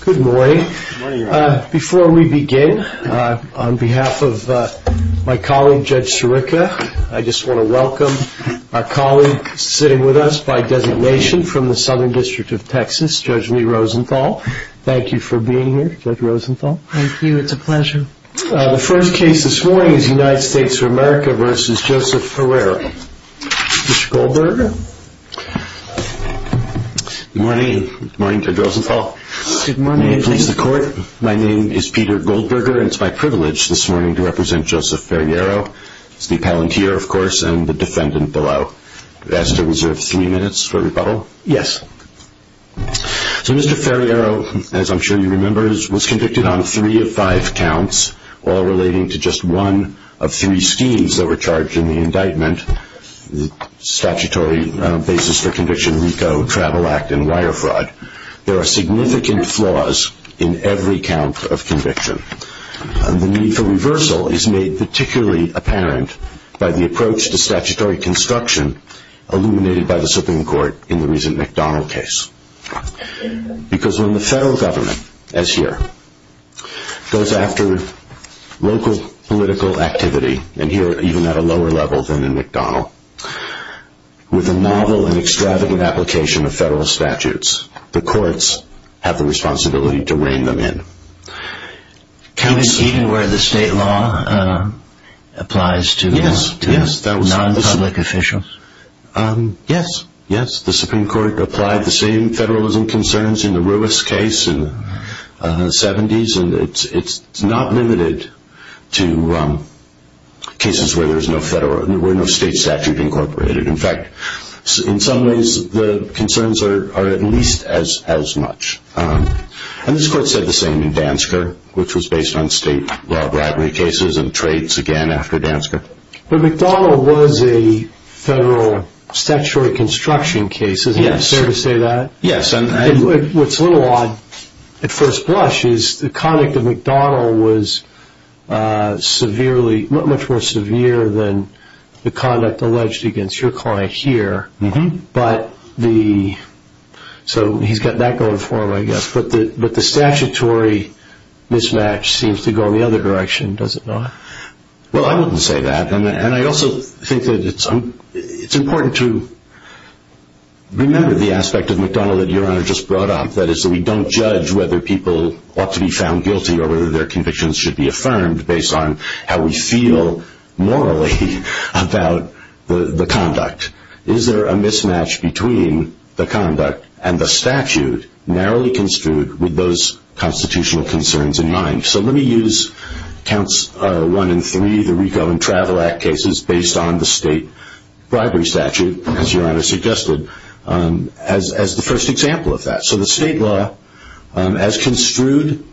Good morning. Before we begin, on behalf of my colleague, Judge Sirica, I just want to welcome our colleague sitting with us by designation from the Southern District of Texas, Judge Lee Rosenthal. Thank you for being here, Judge Rosenthal. Thank you, it's a pleasure. The first case this morning is United States v. America v. Joseph Ferriero. Mr. Goldberger. Good morning. Good morning, Judge Rosenthal. Good morning. May it please the court, my name is Peter Goldberger and it's my privilege this morning to represent Joseph Ferriero, the palantir, of course, and the defendant below. You're asked to reserve three minutes for rebuttal. Yes. So Mr. Ferriero, as I'm sure you remember, was convicted on three of five counts, all relating to just one of three schemes that were charged in the indictment, statutory basis for conviction, RICO, Travel Act, and wire fraud. There are significant flaws in every count of conviction. The need for reversal is made particularly apparent by the approach to statutory construction illuminated by the Supreme Court in the recent McDonnell case. Because when the federal government, as here, goes after local political activity, and here even at a lower level than in McDonnell, with a novel and extravagant application of federal statutes, the courts have the responsibility to rein them in. Even where the state law applies to non-public officials? Yes, yes, the Supreme Court applies the same federalism concerns in the Ruiz case in the 70s, and it's not limited to cases where there's no federal, where no state statute incorporated. In fact, in some ways, the concerns are at least as much. And this court said the same in Dansker, which was based on state law bribery cases and trades again after Dansker. But McDonnell was a federal statutory construction case, isn't it fair to say that? Yes. What's a little odd, at first blush, is the conduct of McDonnell was much more severe than the conduct alleged against your client here. So he's got that going for him, I guess. But the statutory mismatch seems to go in the other direction, does it not? Well, I wouldn't say that. And I also think that it's important to remember the aspect of McDonnell that your Honor just brought up, that is that we don't judge whether people ought to be found guilty or whether their convictions should be affirmed based on how we feel morally about the conduct. Is there a mismatch between the conduct and the statute narrowly construed with those constitutional concerns in mind? So let me use Counts 1 and 3, the Reco and Travel Act cases, based on the state bribery statute, as your Honor suggested, as the first example of that. So the state law, as construed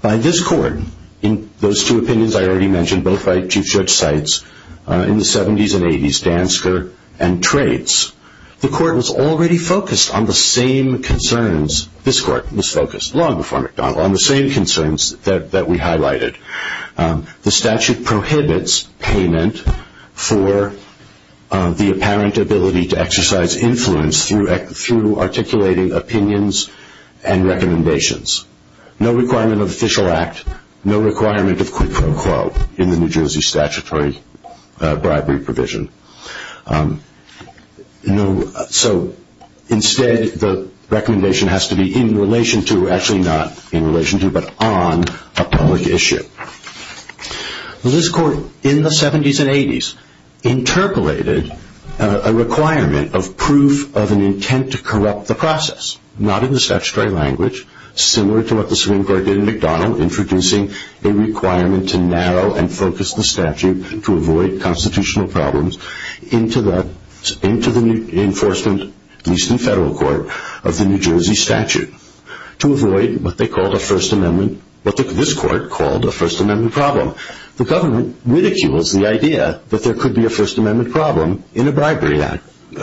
by this court in those two opinions I already mentioned, both by Chief Judge Seitz, in the 70s and 80s, Dansker and trades, the court was already focused on the same concerns, this court was focused long before McDonnell, on the same concerns that we highlighted. The statute prohibits payment for the apparent ability to exercise influence through articulating opinions and recommendations. No requirement of official act, no requirement of quid pro quo in the New Jersey statutory bribery provision. So instead the recommendation has to be that in relation to, actually not in relation to, but on a public issue. This court in the 70s and 80s interpolated a requirement of proof of an intent to corrupt the process, not in the statutory language, similar to what the Supreme Court did in McDonnell, introducing a requirement to narrow and focus the statute to avoid constitutional problems into the enforcement, at least in federal court, of the New Jersey statute. To avoid what they called a First Amendment, what this court called a First Amendment problem. The government ridicules the idea that there could be a First Amendment problem in a bribery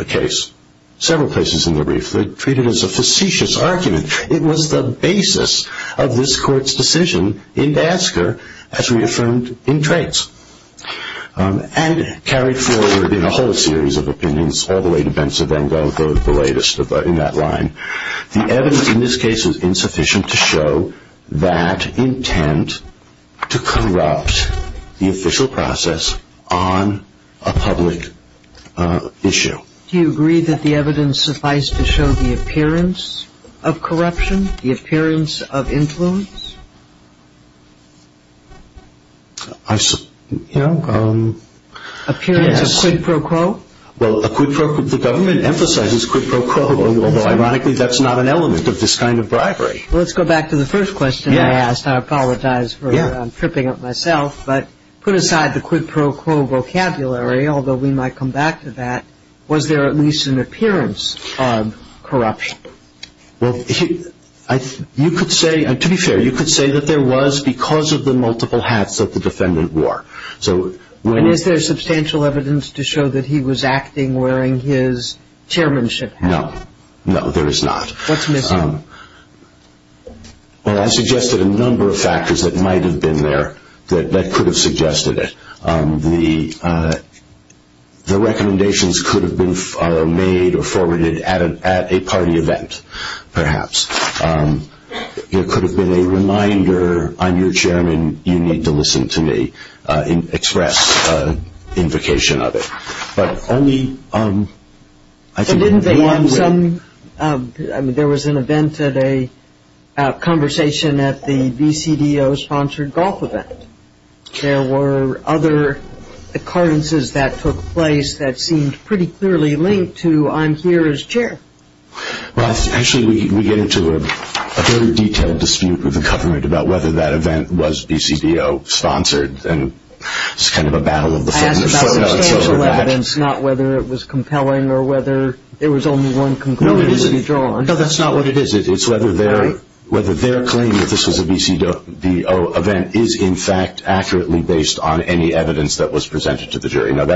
case. Several places in the brief they treat it as a facetious argument. It was the basis of this court's decision in Dansker as reaffirmed in trades. And carried forward in a whole series of opinions all the way to Ben Savango, the latest in that line. The evidence in this case is insufficient to show that intent to corrupt the official process on a public issue. Do you agree that the evidence suffice to show the appearance of corruption, the appearance of influence? I, you know, yes. Appearance of quid pro quo? Well, a quid pro quo, the government emphasizes quid pro quo, although ironically that's not an element of this kind of bribery. Well, let's go back to the first question I asked. I apologize for tripping up myself, but put aside the quid pro quo vocabulary, although we might come back to that, was there at least an appearance of corruption? Well, you could say, to be fair, you could say that there was because of the multiple hats that the defendant wore. And is there substantial evidence to show that he was acting wearing his chairmanship hat? No. No, there is not. What's missing? Well, I suggested a number of factors that might have been there that could have suggested it. The recommendations could have been made or forwarded at a party event, perhaps. It expressed invocation of it. But only, I think, one way. There was an event at a conversation at the BCDO-sponsored golf event. There were other occurrences that took place that seemed pretty clearly linked to, I'm here as chair. Well, actually, we get into a very detailed dispute with the government about whether that event was BCDO-sponsored. And it's kind of a battle of the footnotes over that. I asked about substantial evidence, not whether it was compelling or whether there was only one conclusion to be drawn. No, that's not what it is. It's whether their claim that this was a BCDO event is, in fact, accurately based on any evidence that was presented to the jury. None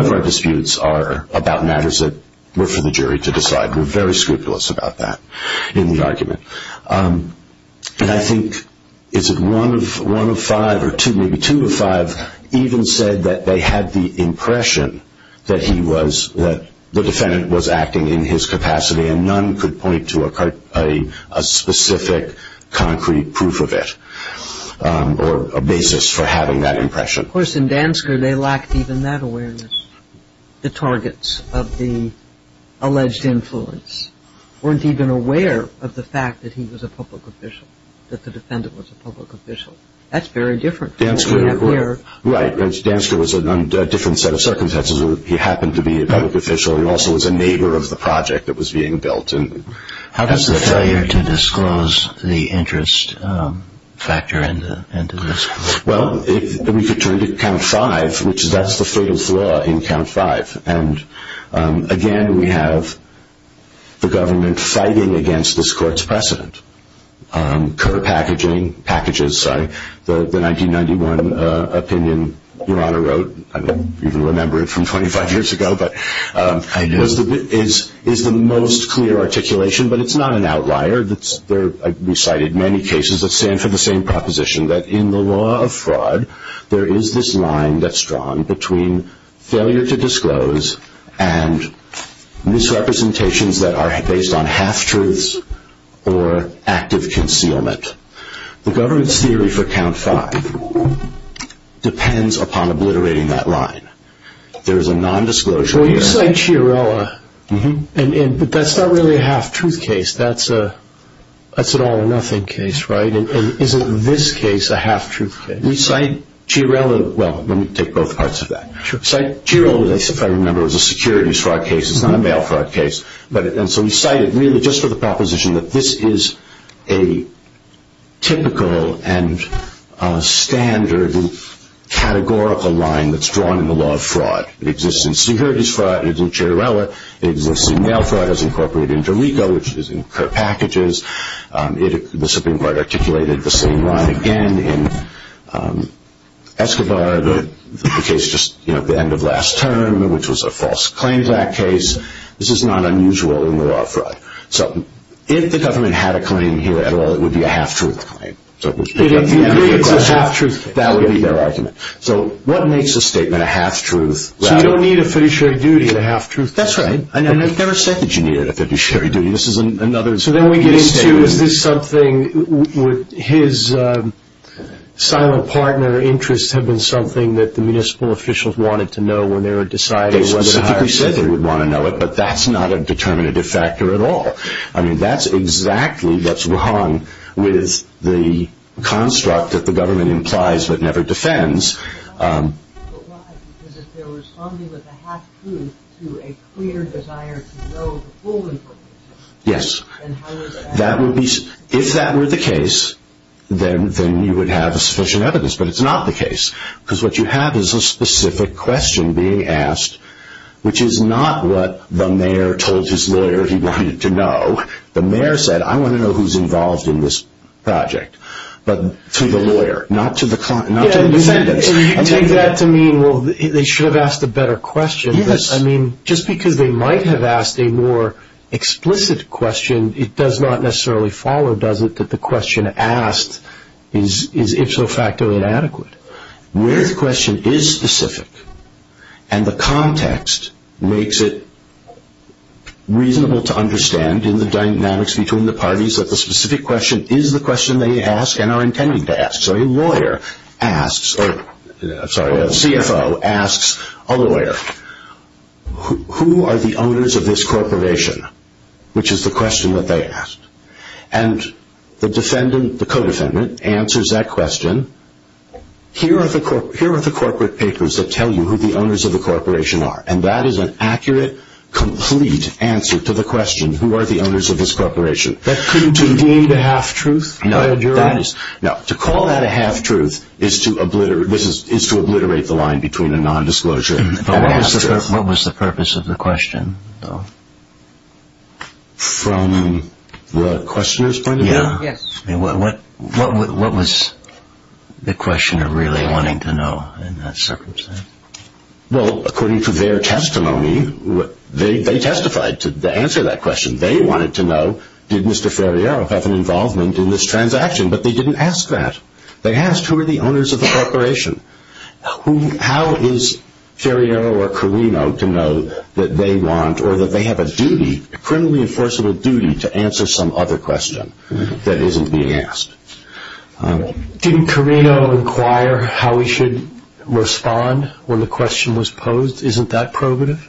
of our disputes are about matters that were for the jury to decide. We're very scrupulous about that in the argument. And I think, is it one of five or two, maybe two of five, even said that they had the impression that the defendant was acting in his capacity and none could point to a specific concrete proof of it or a basis for having that impression. Of course, in Dansker, they lacked even that awareness. The targets of the alleged influence weren't even aware of the fact that he was a public official, that the defendant was a public official. That's very different from what we have here. Right. Dansker was under a different set of circumstances. He happened to be a public official and also was a neighbor of the project that was being built. How does the failure to disclose the interest factor into this? Well, we could turn to Count 5, which that's the fatal flaw in Count 5. And again, we have the government fighting against this court's precedent. Kerr packaging, packages, sorry, the 1991 opinion Your Honor wrote, I don't even remember it from 25 years ago, but is the most clear articulation, but it's not an outlier. I've recited many cases that stand for the same proposition, that in the law of fraud, there is this line that's drawn between failure to disclose and misrepresentations that are based on half-truths or active concealment. The government's theory for Count 5 depends upon obliterating that line. There is a non-disclosure here. Well, you cite Chiarella, but that's not really a half-truth case. That's an all-or-nothing case, right? And isn't this case a half-truth case? We cite Chiarella, well, let me take both parts of that. We cite Chiarella, if I remember, as a securities fraud case. It's not a mail fraud case. And so we cite it really just for the proposition that this is a typical and standard categorical line that's drawn in the law of fraud. It exists in securities fraud, it exists in Chiarella, it exists in mail fraud as incorporated into RICO, which is in Kerr packages. The Supreme Court articulated the same line again in Escobar, the case just at the end of last term, which was a false claim to that case. This is not unusual in the law of fraud. So if the government had a claim here at all, it would be a half-truth claim. If you agree it's a half-truth case? That would be their argument. So what makes a statement a half-truth? So you don't need a fiduciary duty to half-truth? That's right. And I've never said that you need a fiduciary duty. This is another So then we get into, is this something, would his silent partner interests have been something that the municipal officials wanted to know when they were deciding whether to hire him? They specifically said they would want to know it, but that's not a determinative factor at all. I mean, that's exactly what's wrong with the construct that the government implies but never defends. But why? Because if they're responding with a half-truth to a clear desire to know the full information, then how would that be? Yes. If that were the case, then you would have sufficient evidence. But it's not the case. What you have is a specific question being asked, which is not what the mayor told his lawyer he wanted to know. The mayor said, I want to know who's involved in this project. But to the lawyer, not to the defendants. So you take that to mean, well, they should have asked a better question. Yes. I mean, just because they might have asked a more explicit question, it does not necessarily follow, does it, that the question asked is ipso facto inadequate? Where the question is specific and the context makes it reasonable to understand in the dynamics between the parties that the specific question is the question they ask and are intending to ask. So a lawyer asks, or, I'm sorry, a CFO asks a lawyer, who are the owners of this corporation? Which is the question that they asked. And the defendant, the co-defendant, answers that question. Here are the corporate papers that tell you who the owners of the corporation are. And that is an accurate, complete answer to the question, who are the owners of this corporation. That couldn't be deemed a half-truth by a juror? No. To call that a half-truth is to obliterate the line between a nondisclosure and a half-truth. What was the purpose of the question, though? From the questioner's point of view? Yes. What was the questioner really wanting to know in that circumstance? Well, according to their testimony, they testified to the answer to that question. They wanted to know, did Mr. Ferriero have an involvement in this transaction? But they didn't ask that. They asked, who are the owners of the corporation? How is Ferriero or Carino to know that they want, or that they have a duty, a criminally enforceable duty, to answer some other question that isn't being asked? Didn't Carino inquire how he should respond when the question was posed? Isn't that probative?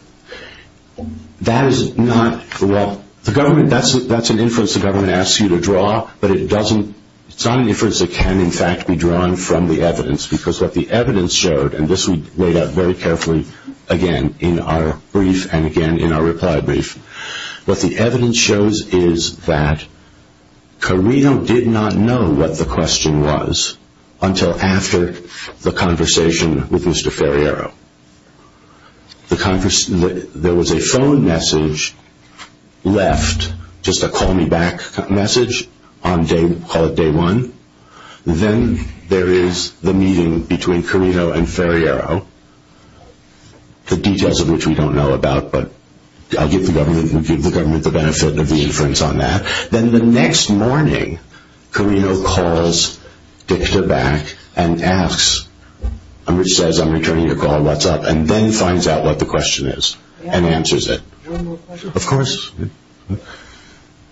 That is not, well, the government, that's an inference the government asks you to draw. But it doesn't, it's not an inference that can, in fact, be drawn from the evidence. Because what the evidence showed, and this we laid out very carefully, again, in our brief, and again in our reply brief, what the evidence shows is that Carino did not know what the question was until after the conversation with Mr. Ferriero. There was a phone message left, just a call me back message on day, call it day one. Then there is the meeting between Carino and Ferriero, the details of which we don't know about, but I'll give the government, we give the government the benefit of the inference on that. Then the next morning, Carino calls Dichter back and asks, which says I'm returning your call, what's up, and then finds out what the question is, and answers it. One more question. Of course.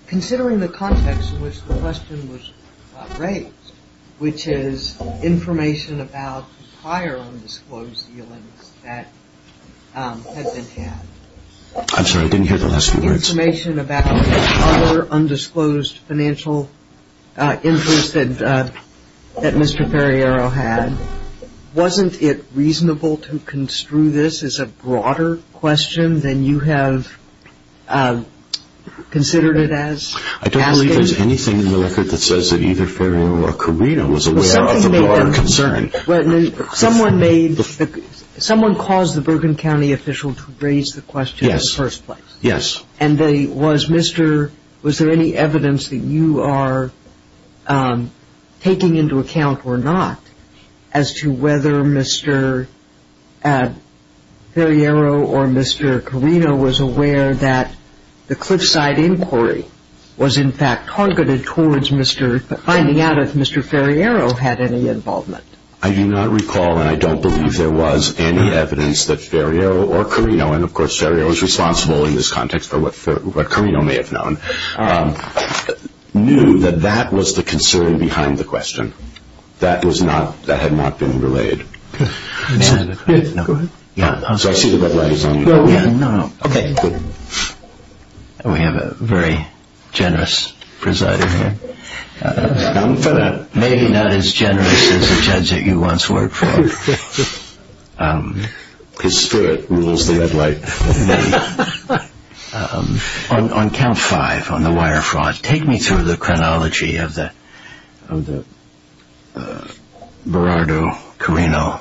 Considering the context in which the question was raised, which is information about prior undisclosed dealings that had been had. I'm sorry, I didn't hear the last few words. Information about prior undisclosed financial interests that Mr. Ferriero had, wasn't it considered it as asking? I don't believe there is anything in the record that says that either Ferriero or Carino was aware of the broader concern. Someone caused the Bergen County official to raise the question in the first place. And was there any evidence that you are taking into account or not as to whether Mr. Ferriero or Mr. Carino was aware that the Cliffside inquiry was in fact targeted towards finding out if Mr. Ferriero had any involvement? I do not recall and I don't believe there was any evidence that Ferriero or Carino, and of course Ferriero is responsible in this context for what Carino may have known, knew that that was the concern behind the question. That was not, that had not been relayed. Go ahead. So I see the red light is on. No, no. Okay. Good. We have a very generous presider here. Not for that. Maybe not as generous as the judge that you once worked for. His spirit rules the red light. On count five on the wire fraud, take me through the chronology of the Berardo Carino.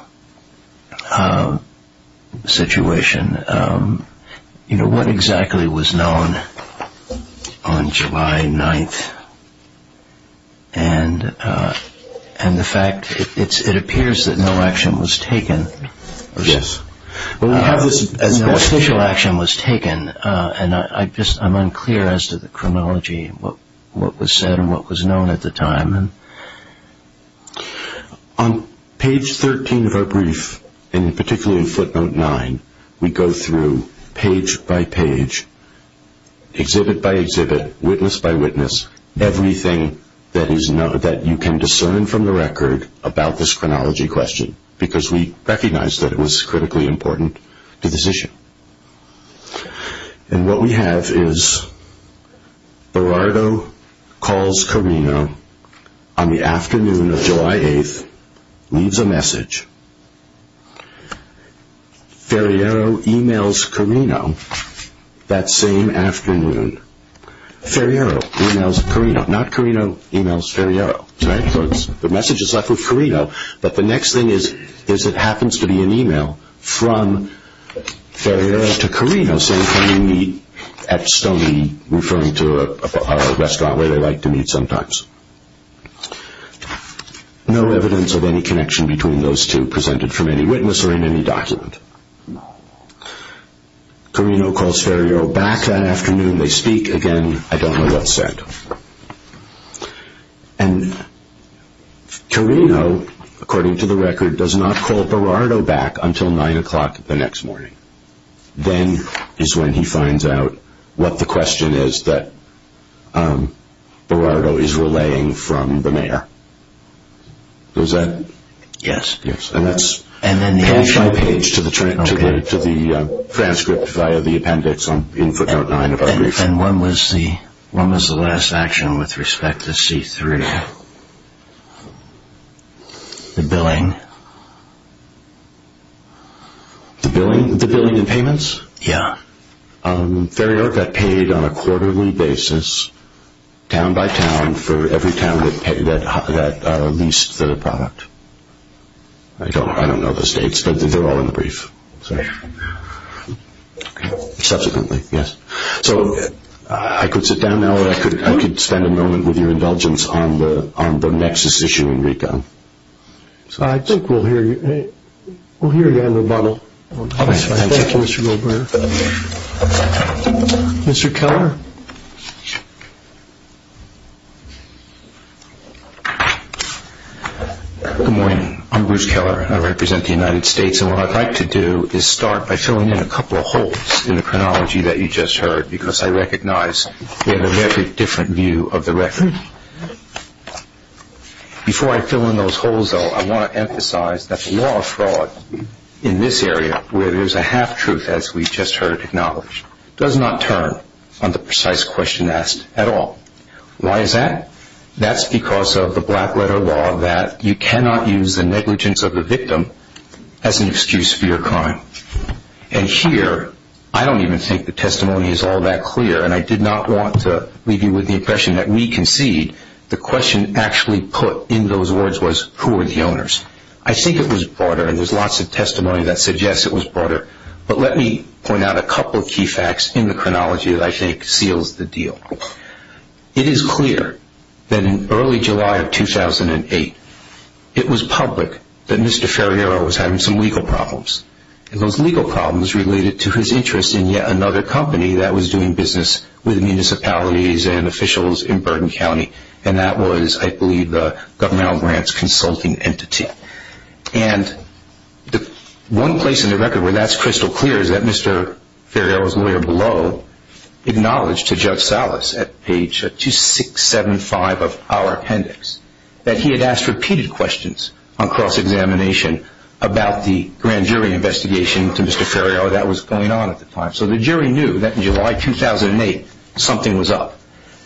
situation. You know, what exactly was known on July 9th? And the fact, it appears that no action was taken. Yes. No official action was taken. And I just, I'm unclear as to the chronology, what was said and what was known at the time. On page 13 of our brief, and particularly footnote 9, we go through page by page, exhibit by exhibit, witness by witness, everything that you can discern from the record about this chronology question. Because we recognize that it was critically important to this issue. And what we have is Berardo calls Carino on the afternoon of July 8th, leaves a message. Ferriero emails Carino that same afternoon. Ferriero emails Carino. Not Carino emails Ferriero. So the message is left with Carino. But the next thing is, is it happens to be an email from Ferriero to Carino saying can you meet at Stoney, referring to a restaurant where they like to meet sometimes. No evidence of any connection between those two presented from any witness or in any document. Carino calls Ferriero back that afternoon. They speak again. I don't know what's said. And Carino, according to the record, does not call Berardo back until 9 o'clock the next morning. Then is when he finds out what the question is that Berardo is relaying from the mayor. Does that? Yes. And that's page by page to the transcript via the appendix in footnote 9 of our brief. And when was the last action with respect to C3? The billing? The billing? The billing and payments? Yeah. Ferriero got paid on a quarterly basis, town by town, for every town that leased the product. I don't know the states, but they're all in the brief. Subsequently, yes. So I could sit down now or I could spend a moment with your indulgence on the nexus issue, Enrico. I think we'll hear you. We'll hear you on the bottle. Thank you, Mr. Goldberger. Mr. Keller? Good morning. I'm Bruce Keller. I represent the United States. And what I'd like to do is start by filling in a couple of holes in the chronology that you just heard because I recognize we have a very different view of the record. Before I fill in those holes, though, I want to emphasize that the law of fraud in this area where there's a half-truth, as we just heard acknowledged, does not turn on the precise question asked at all. Why is that? That's because of the black-letter law that you cannot use the negligence of the victim as an excuse for your crime. And here, I don't even think the testimony is all that clear, and I did not want to leave you with the impression that we concede. The question actually put in those words was, who are the owners? I think it was broader, and there's lots of testimony that suggests it was broader. But let me point out a couple of key facts in the chronology that I think seals the deal. It is clear that in early July of 2008, it was public that Mr. Ferriero was having some legal problems. And those legal problems related to his interest in yet another company that was doing business with municipalities and officials in Burden County, and that was, I believe, the Governmental Grants Consulting Entity. And one place in the record where that's crystal clear is that Mr. Ferriero's lawyer below acknowledged to Judge Salas at page 2675 of our appendix that he had asked repeated questions on cross-examination about the grand jury investigation to Mr. Ferriero that was going on at the time. So the jury knew that in July 2008, something was up.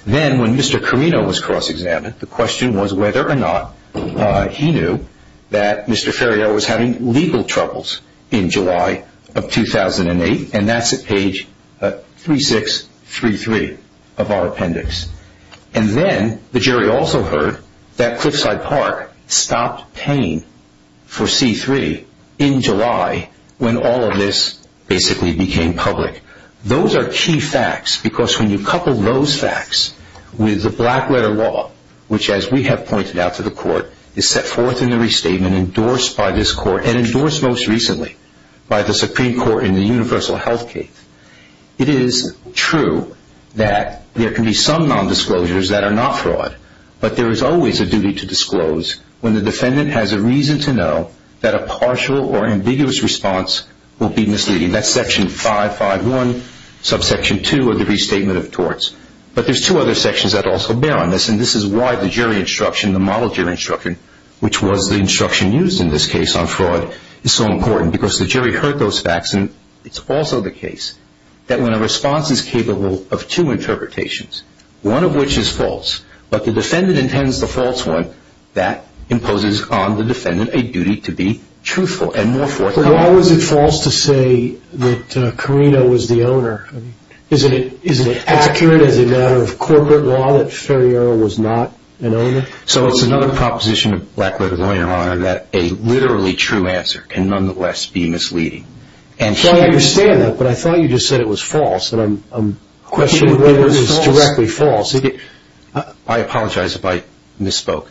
Then, when Mr. Carino was cross-examined, the question was whether or not he knew that Mr. Ferriero was having legal troubles in July of 2008, and that's at page 3633 of our appendix. And then, the jury also heard that Cliffside Park stopped paying for C3 in July when all of this basically became public. Those are key facts, because when you couple those facts with the black-letter law, which, as we have pointed out to the Court, is set forth in the restatement, and endorsed by this Court, and endorsed most recently by the Supreme Court in the universal health case, it is true that there can be some non-disclosures that are not fraud, but there is always a duty to disclose when the defendant has a reason to know that a partial or ambiguous response will be misleading. That's section 551, subsection 2 of the Restatement of Torts. But there's two other sections that also bear on this, and this is why the jury instruction, the model jury instruction, which was the instruction used in this case on fraud, is so important, because the jury heard those facts, and it's also the case that when a response is capable of two interpretations, one of which is false, but the defendant intends the false one, that imposes on the defendant a duty to be truthful and more forthcoming. Why was it false to say that Carino was the owner? Isn't it accurate as a matter of corporate law that Ferriero was not an owner? So it's another proposition of Black, Red, and White in our honor that a literally true answer can nonetheless be misleading. So I understand that, but I thought you just said it was false, and I'm questioning whether it is directly false. I apologize if I misspoke.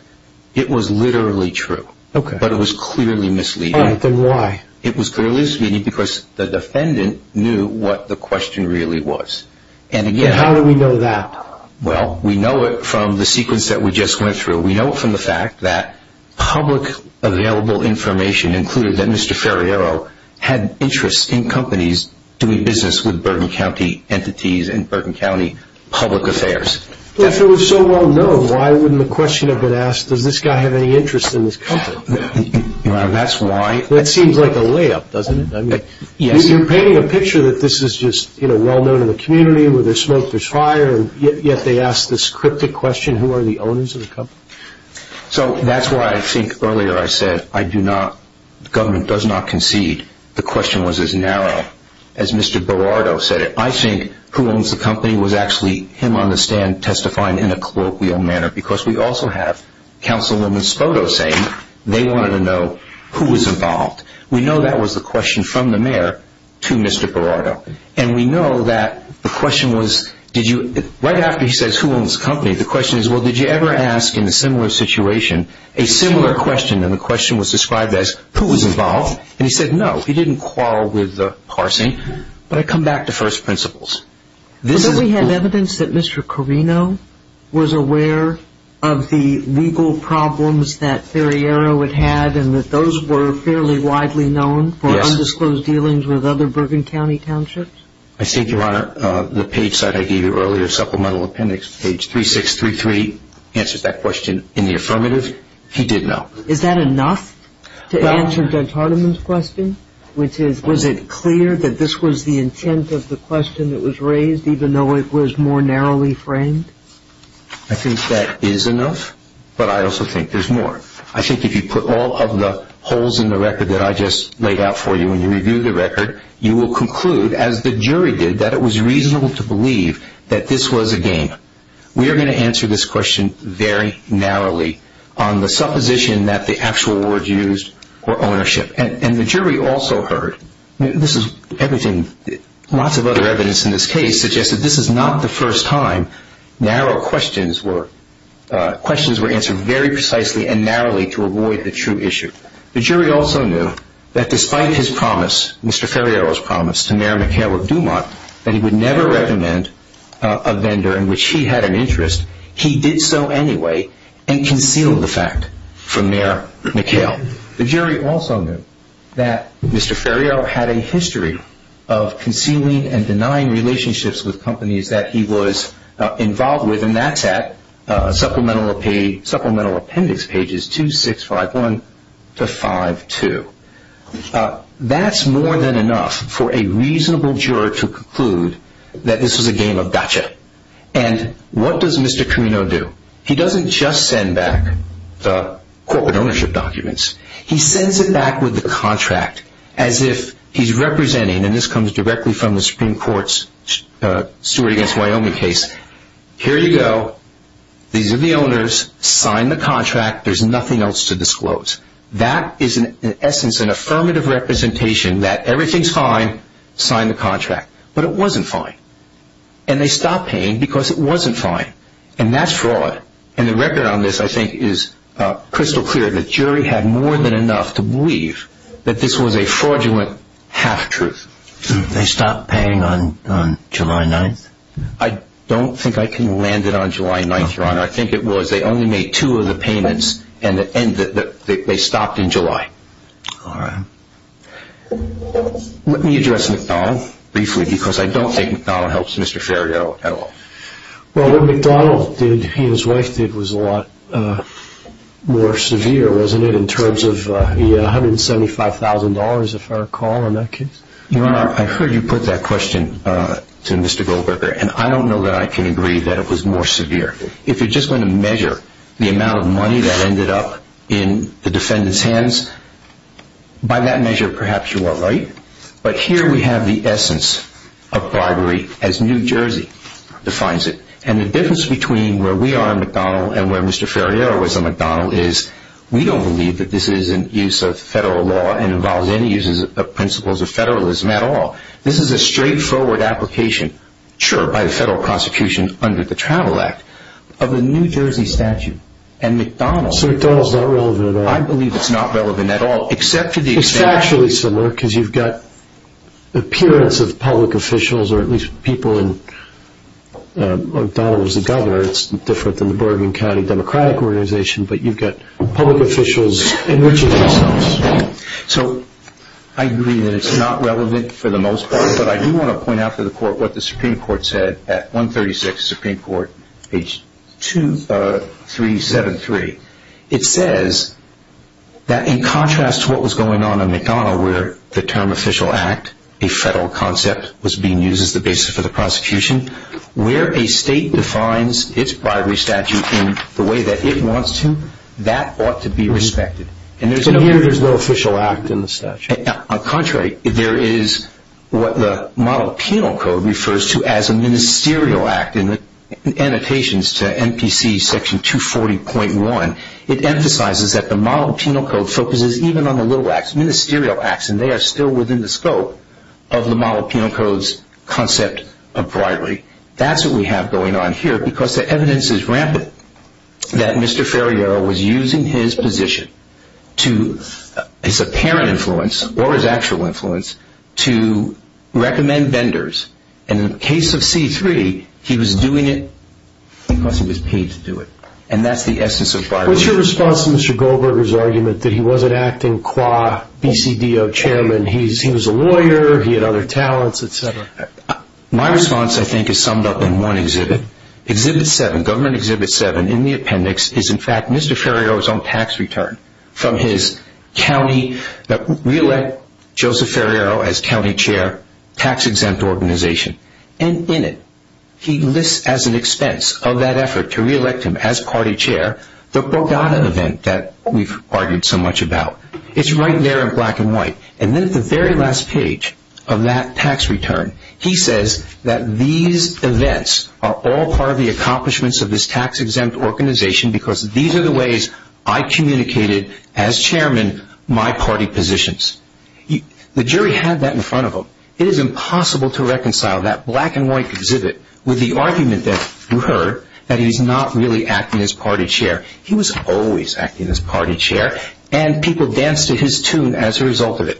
It was literally true, but it was clearly misleading. All right, then why? It was clearly misleading because the defendant knew what the question really was. And again... And how do we know that? Well, we know it from the sequence that we just went through. We know it from the fact that public available information included that Mr. Ferriero had interest in companies doing business with Bergen County entities and Bergen County public affairs. If it was so well known, why wouldn't the question have been asked, does this guy have any interest in this company? That's why... That seems like a layup, doesn't it? Yes. You're painting a picture that this is just well known in the community, where there's smoke, there's fire, and yet they ask this cryptic question, who are the owners of the company? So that's why I think earlier I said I do not, the government does not concede the question was as narrow as Mr. Berardo said it. I think who owns the company was actually him on the stand testifying in a colloquial manner because we also have Councilwoman Spodo saying they wanted to know who was involved. We know that was the question from the mayor to Mr. Berardo, and we know that the question was, right after he says who owns the company, the question is, well, did you ever ask in a similar situation a similar question, and the question was described as who was involved? And he said no, he didn't quarrel with parsing. But I come back to first principles. We have evidence that Mr. Corino was aware of the legal problems that Ferriero had had and that those were fairly widely known for undisclosed dealings with other Bergen County townships? I think, Your Honor, the page site I gave you earlier, supplemental appendix page 3633, answers that question in the affirmative. He did know. Is that enough to answer Judge Hardiman's question, which is was it clear that this was the intent of the question that was raised even though it was more narrowly framed? I think that is enough, but I also think there's more. I think if you put all of the holes in the record that I just laid out for you and you review the record, you will conclude, as the jury did, that it was reasonable to believe that this was a game. We are going to answer this question very narrowly on the supposition that the actual words used were ownership. And the jury also heard. This is everything. Lots of other evidence in this case suggests that this is not the first time narrow questions were answered very precisely and narrowly to avoid the true issue. The jury also knew that despite his promise, Mr. Ferriero's promise, to Mayor McHale of Dumont, that he would never recommend a vendor in which he had an interest, he did so anyway and concealed the fact from Mayor McHale. The jury also knew that Mr. Ferriero had a history of concealing and denying relationships with companies that he was involved with, and that's at Supplemental Appendix pages 2, 6, 5, 1 to 5, 2. That's more than enough for a reasonable juror to conclude that this was a game of gotcha. And what does Mr. Carino do? He doesn't just send back the corporate ownership documents. He sends it back with the contract as if he's representing, and this comes directly from the Supreme Court's Stewart v. Wyoming case, here you go, these are the owners, sign the contract, there's nothing else to disclose. That is in essence an affirmative representation that everything's fine, sign the contract. But it wasn't fine. And they stopped paying because it wasn't fine. And that's fraud. And the record on this, I think, is crystal clear. The jury had more than enough to believe that this was a fraudulent half-truth. They stopped paying on July 9th? I don't think I can land it on July 9th, Your Honor. I think it was they only made two of the payments and they stopped in July. All right. Let me address McDonnell briefly because I don't think McDonnell helps Mr. Ferriero at all. Well, what McDonnell did, he and his wife did, was a lot more severe, wasn't it, in terms of $175,000, if I recall, in that case. Your Honor, I heard you put that question to Mr. Goldberger, and I don't know that I can agree that it was more severe. If you're just going to measure the amount of money that ended up in the defendant's hands, by that measure perhaps you are right. But here we have the essence of bribery as New Jersey. New Jersey defines it. And the difference between where we are in McDonnell and where Mr. Ferriero was in McDonnell is we don't believe that this is in use of federal law and involves any use of principles of federalism at all. This is a straightforward application, sure, by the federal prosecution under the Travel Act, of a New Jersey statute. So McDonnell is not relevant at all? I believe it's not relevant at all, except for the extent that It's factually similar because you've got the appearance of public officials or at least people in McDonnell as the governor. It's different than the Bergen County Democratic Organization, but you've got public officials enriching themselves. So I agree that it's not relevant for the most part, but I do want to point out to the Court what the Supreme Court said at 136 Supreme Court, page 273. It says that in contrast to what was going on in McDonnell where the term official act, a federal concept, was being used as the basis for the prosecution, where a state defines its bribery statute in the way that it wants to, that ought to be respected. So here there's no official act in the statute? On the contrary, there is what the model penal code refers to as a ministerial act. In the annotations to MPC section 240.1, it emphasizes that the model penal code focuses even on the little acts, ministerial acts, and they are still within the scope of the model penal code's concept of bribery. That's what we have going on here because the evidence is rampant that Mr. Ferriero was using his position, his apparent influence or his actual influence, to recommend vendors, and in the case of C-3, he was doing it because he was paid to do it. And that's the essence of bribery. What's your response to Mr. Goldberger's argument that he wasn't acting qua BCDO chairman? He was a lawyer, he had other talents, etc. My response, I think, is summed up in one exhibit. Exhibit 7, Government Exhibit 7, in the appendix, is in fact Mr. Ferriero's own tax return from his county, re-elect Joseph Ferriero as county chair, tax-exempt organization. And in it, he lists as an expense of that effort to re-elect him as party chair, the Bogota event that we've argued so much about. It's right there in black and white. And then at the very last page of that tax return, he says that these events are all part of the accomplishments of this tax-exempt organization because these are the ways I communicated as chairman my party positions. The jury had that in front of them. It is impossible to reconcile that black and white exhibit with the argument that you heard that he's not really acting as party chair. He was always acting as party chair, and people danced to his tune as a result of it.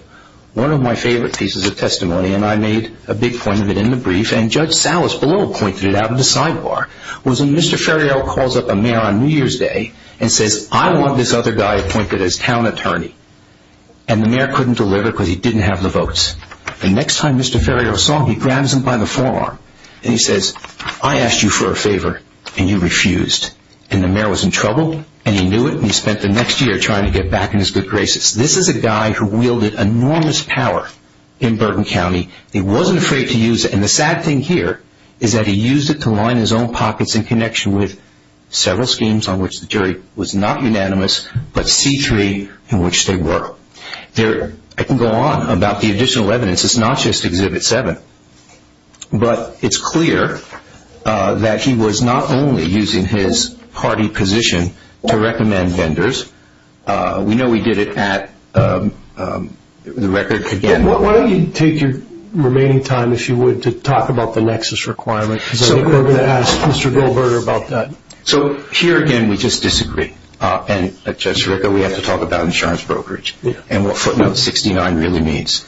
One of my favorite pieces of testimony, and I made a big point of it in the brief, and Judge Salas below pointed it out at the sidebar, was when Mr. Ferriero calls up a mayor on New Year's Day and says, I want this other guy appointed as town attorney. And the mayor couldn't deliver because he didn't have the votes. The next time Mr. Ferriero saw him, he grabs him by the forearm, and he says, I asked you for a favor, and you refused. And the mayor was in trouble, and he knew it, and he spent the next year trying to get back in his good graces. This is a guy who wielded enormous power in Burton County. He wasn't afraid to use it, and the sad thing here is that he used it to line his own pockets in connection with several schemes on which the jury was not unanimous, but C3 in which they were. I can go on about the additional evidence. It's not just Exhibit 7. But it's clear that he was not only using his party position to recommend vendors. We know he did it at the record again. Why don't you take your remaining time, if you would, to talk about the nexus requirement? Because I think we're going to ask Mr. Goldberger about that. So here again, we just disagree. Judge Sirico, we have to talk about insurance brokerage and what footnote 69 really means.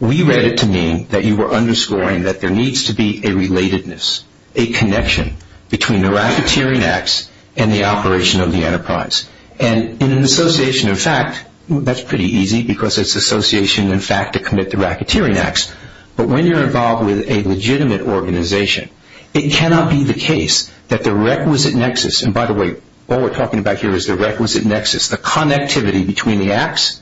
We read it to mean that you were underscoring that there needs to be a relatedness, a connection between the racketeering acts and the operation of the enterprise. And in an association, in fact, that's pretty easy because it's association, in fact, to commit the racketeering acts. But when you're involved with a legitimate organization, it cannot be the case that the requisite nexus – and by the way, all we're talking about here is the requisite nexus, the connectivity between the acts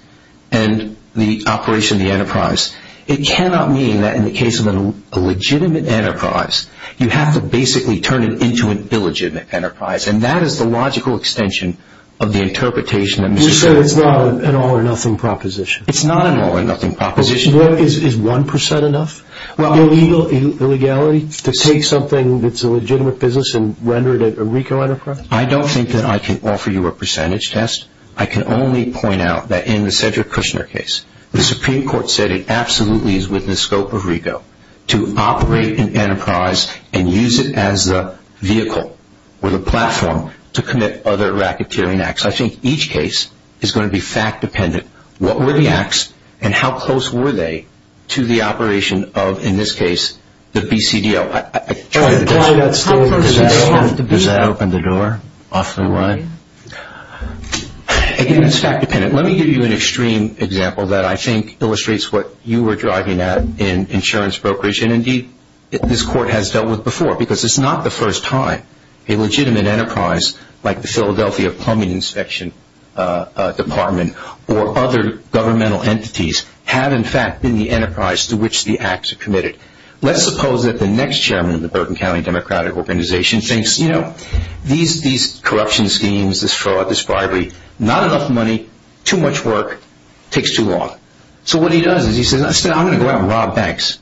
and the operation of the enterprise. It cannot mean that in the case of a legitimate enterprise, you have to basically turn it into an illegitimate enterprise. And that is the logical extension of the interpretation that Mr. Goldberger – You're saying it's not an all-or-nothing proposition. It's not an all-or-nothing proposition. Is 1% enough? Illegality to take something that's a legitimate business and render it a RICO enterprise? I don't think that I can offer you a percentage test. I can only point out that in the Cedric Kushner case, the Supreme Court said it absolutely is within the scope of RICO to operate an enterprise and use it as the vehicle or the platform to commit other racketeering acts. I think each case is going to be fact-dependent. What were the acts and how close were they to the operation of, in this case, the BCDL? I tried to – Does that open the door off the line? Again, it's fact-dependent. Let me give you an extreme example that I think illustrates what you were driving at in insurance brokerage. And indeed, this Court has dealt with before because it's not the first time a legitimate enterprise, like the Philadelphia Plumbing Inspection Department or other governmental entities, have, in fact, been the enterprise to which the acts are committed. Let's suppose that the next chairman of the Bergen County Democratic Organization thinks, you know, these corruption schemes, this fraud, this bribery, not enough money, too much work, takes too long. So what he does is he says, instead, I'm going to go out and rob banks.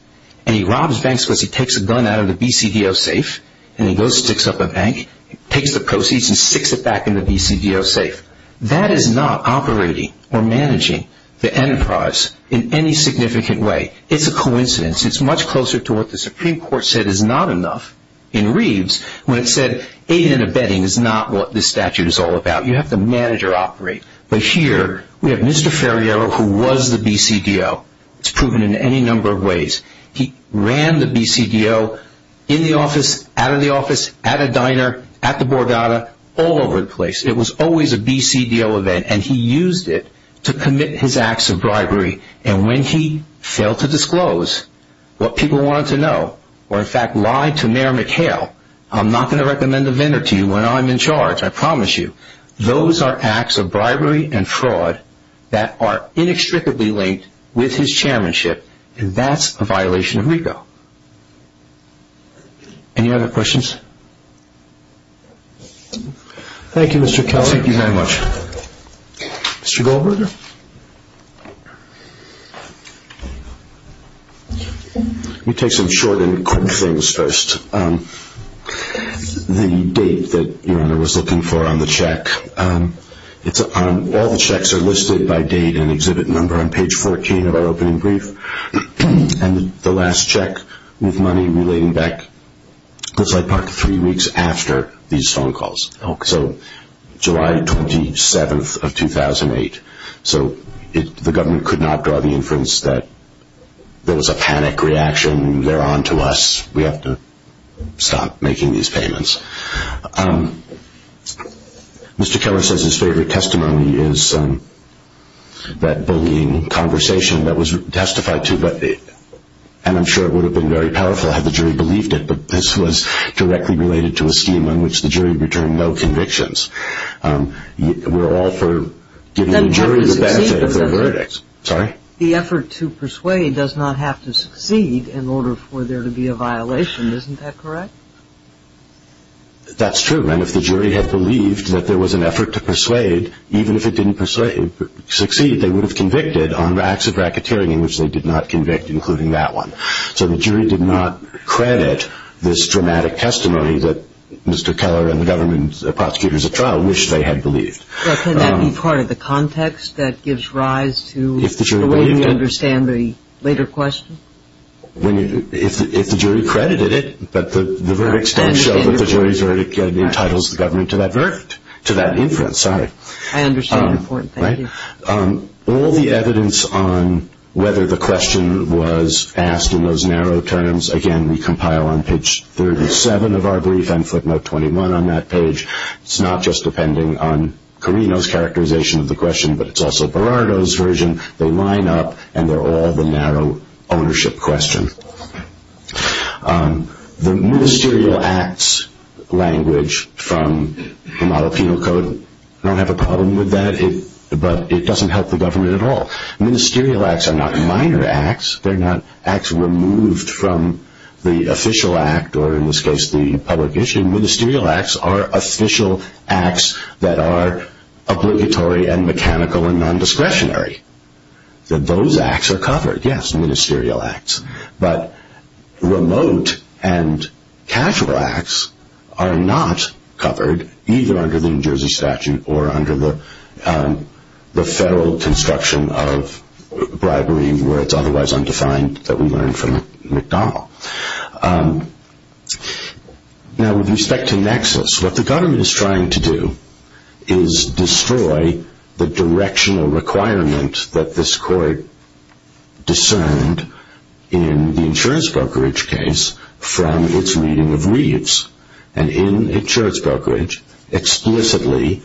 And he robs banks because he takes a gun out of the BCDL safe, and he goes and sticks up a bank, takes the proceeds, and sticks it back in the BCDL safe. That is not operating or managing the enterprise in any significant way. It's a coincidence. It's much closer to what the Supreme Court said is not enough. In Reeves, when it said aiding and abetting is not what this statute is all about, you have to manage or operate. But here, we have Mr. Ferriero, who was the BCDL. It's proven in any number of ways. He ran the BCDL in the office, out of the office, at a diner, at the Borgata, all over the place. It was always a BCDL event, and he used it to commit his acts of bribery. And when he failed to disclose what people wanted to know or, in fact, lied to Mayor McHale, I'm not going to recommend a vendor to you when I'm in charge, I promise you. Those are acts of bribery and fraud that are inextricably linked with his chairmanship. And that's a violation of RICO. Any other questions? Thank you, Mr. Keller. Thank you very much. Mr. Goldberger? Let me take some short and quick things first. The date that Your Honor was looking for on the check, all the checks are listed by date and exhibit number on page 14 of our opening brief. And the last check with money relating back was like part of three weeks after these phone calls. So July 27th of 2008. So the government could not draw the inference that there was a panic reaction, they're on to us, we have to stop making these payments. Mr. Keller says his favorite testimony is that bullying conversation that was testified to, and I'm sure it would have been very powerful had the jury believed it, but this was directly related to a scheme on which the jury returned no convictions. We're all for giving the jury the benefit of the verdict. The effort to persuade does not have to succeed in order for there to be a violation, isn't that correct? That's true. And if the jury had believed that there was an effort to persuade, even if it didn't succeed, they would have convicted on acts of racketeering in which they did not convict, including that one. So the jury did not credit this dramatic testimony that Mr. Keller and the government prosecutors at trial wished they had believed. Can that be part of the context that gives rise to the way we understand the later question? If the jury credited it, but the verdicts don't show that the jury's verdict entitles the government to that inference. I understand your point. Thank you. All the evidence on whether the question was asked in those narrow terms, again, we compile on page 37 of our brief and footnote 21 on that page. It's not just depending on Carino's characterization of the question, but it's also Berardo's version. They line up, and they're all the narrow ownership question. The ministerial acts language from the model penal code, I don't have a problem with that, but it doesn't help the government at all. Ministerial acts are not minor acts. They're not acts removed from the official act or, in this case, the public issue. Ministerial acts are official acts that are obligatory and mechanical and non-discretionary. Those acts are covered, yes, ministerial acts, but remote and casual acts are not covered, either under the New Jersey statute or under the federal construction of bribery where it's otherwise undefined that we learned from McDonald. Now, with respect to nexus, what the government is trying to do is destroy the directional requirement that this court discerned in the insurance brokerage case from its reading of Reeves. And in insurance brokerage, explicitly,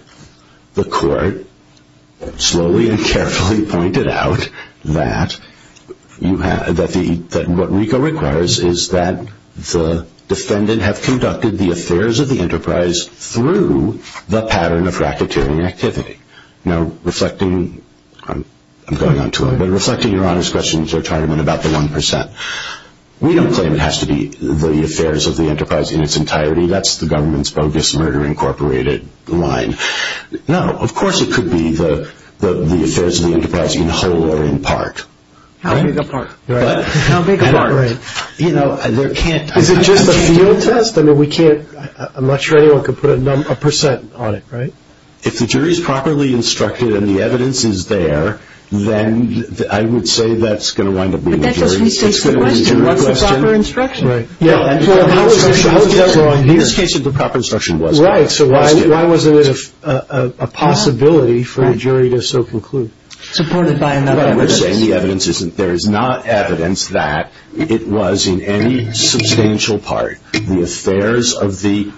the court slowly and carefully pointed out that what RICO requires is that the defendant have conducted the affairs of the enterprise through the pattern of racketeering activity. Now, reflecting, I'm going on too long, but reflecting Your Honor's questions, they're talking about the 1%. We don't claim it has to be the affairs of the enterprise in its entirety. That's the government's bogus murder incorporated line. No, of course it could be the affairs of the enterprise in whole or in part. How big a part? Right. How big a part? Right. You know, there can't be. Is it just a field test? I mean, we can't. I'm not sure anyone could put a percent on it, right? If the jury is properly instructed and the evidence is there, then I would say that's going to wind up being a jury question. But that just restates the question. It's going to be a jury question. What's the proper instruction? Right. Yeah. How is that wrong here? In this case, if the proper instruction was. Right. So why wasn't it a possibility for a jury to so conclude? Supported by another evidence. Right. We're saying the evidence isn't. There is not evidence that it was in any substantial part the affairs of the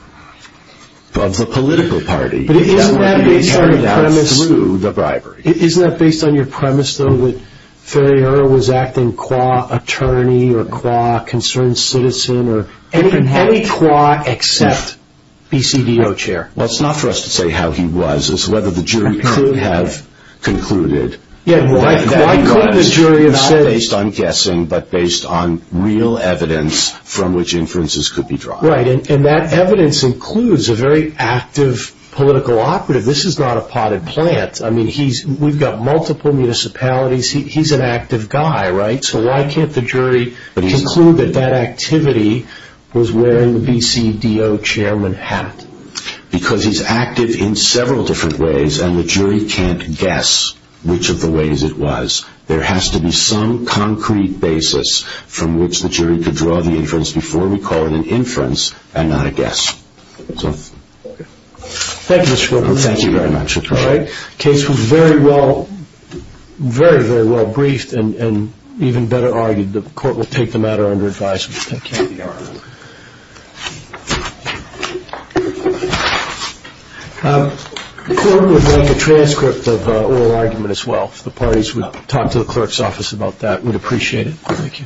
political party. But isn't that based on a premise? It can't be carried out through the bribery. Isn't that based on your premise, though, that Ferriero was acting qua attorney or qua concerned citizen or? Any qua except BCDO chair. Well, it's not for us to say how he was. It's whether the jury could have concluded. Yeah. Why couldn't the jury have said. Not based on guessing, but based on real evidence from which inferences could be drawn. Right. And that evidence includes a very active political operative. This is not a potted plant. I mean, we've got multiple municipalities. He's an active guy, right? So why can't the jury conclude that that activity was wearing the BCDO chairman hat? Because he's active in several different ways, and the jury can't guess which of the ways it was. There has to be some concrete basis from which the jury could draw the inference before we call it an inference and not a guess. Thank you, Mr. Wilkerson. Thank you very much. All right. Case was very well, very, very well briefed and even better argued. The court will take the matter under advice. The court would like a transcript of oral argument as well. If the parties would talk to the clerk's office about that, we'd appreciate it. Thank you. Thank you.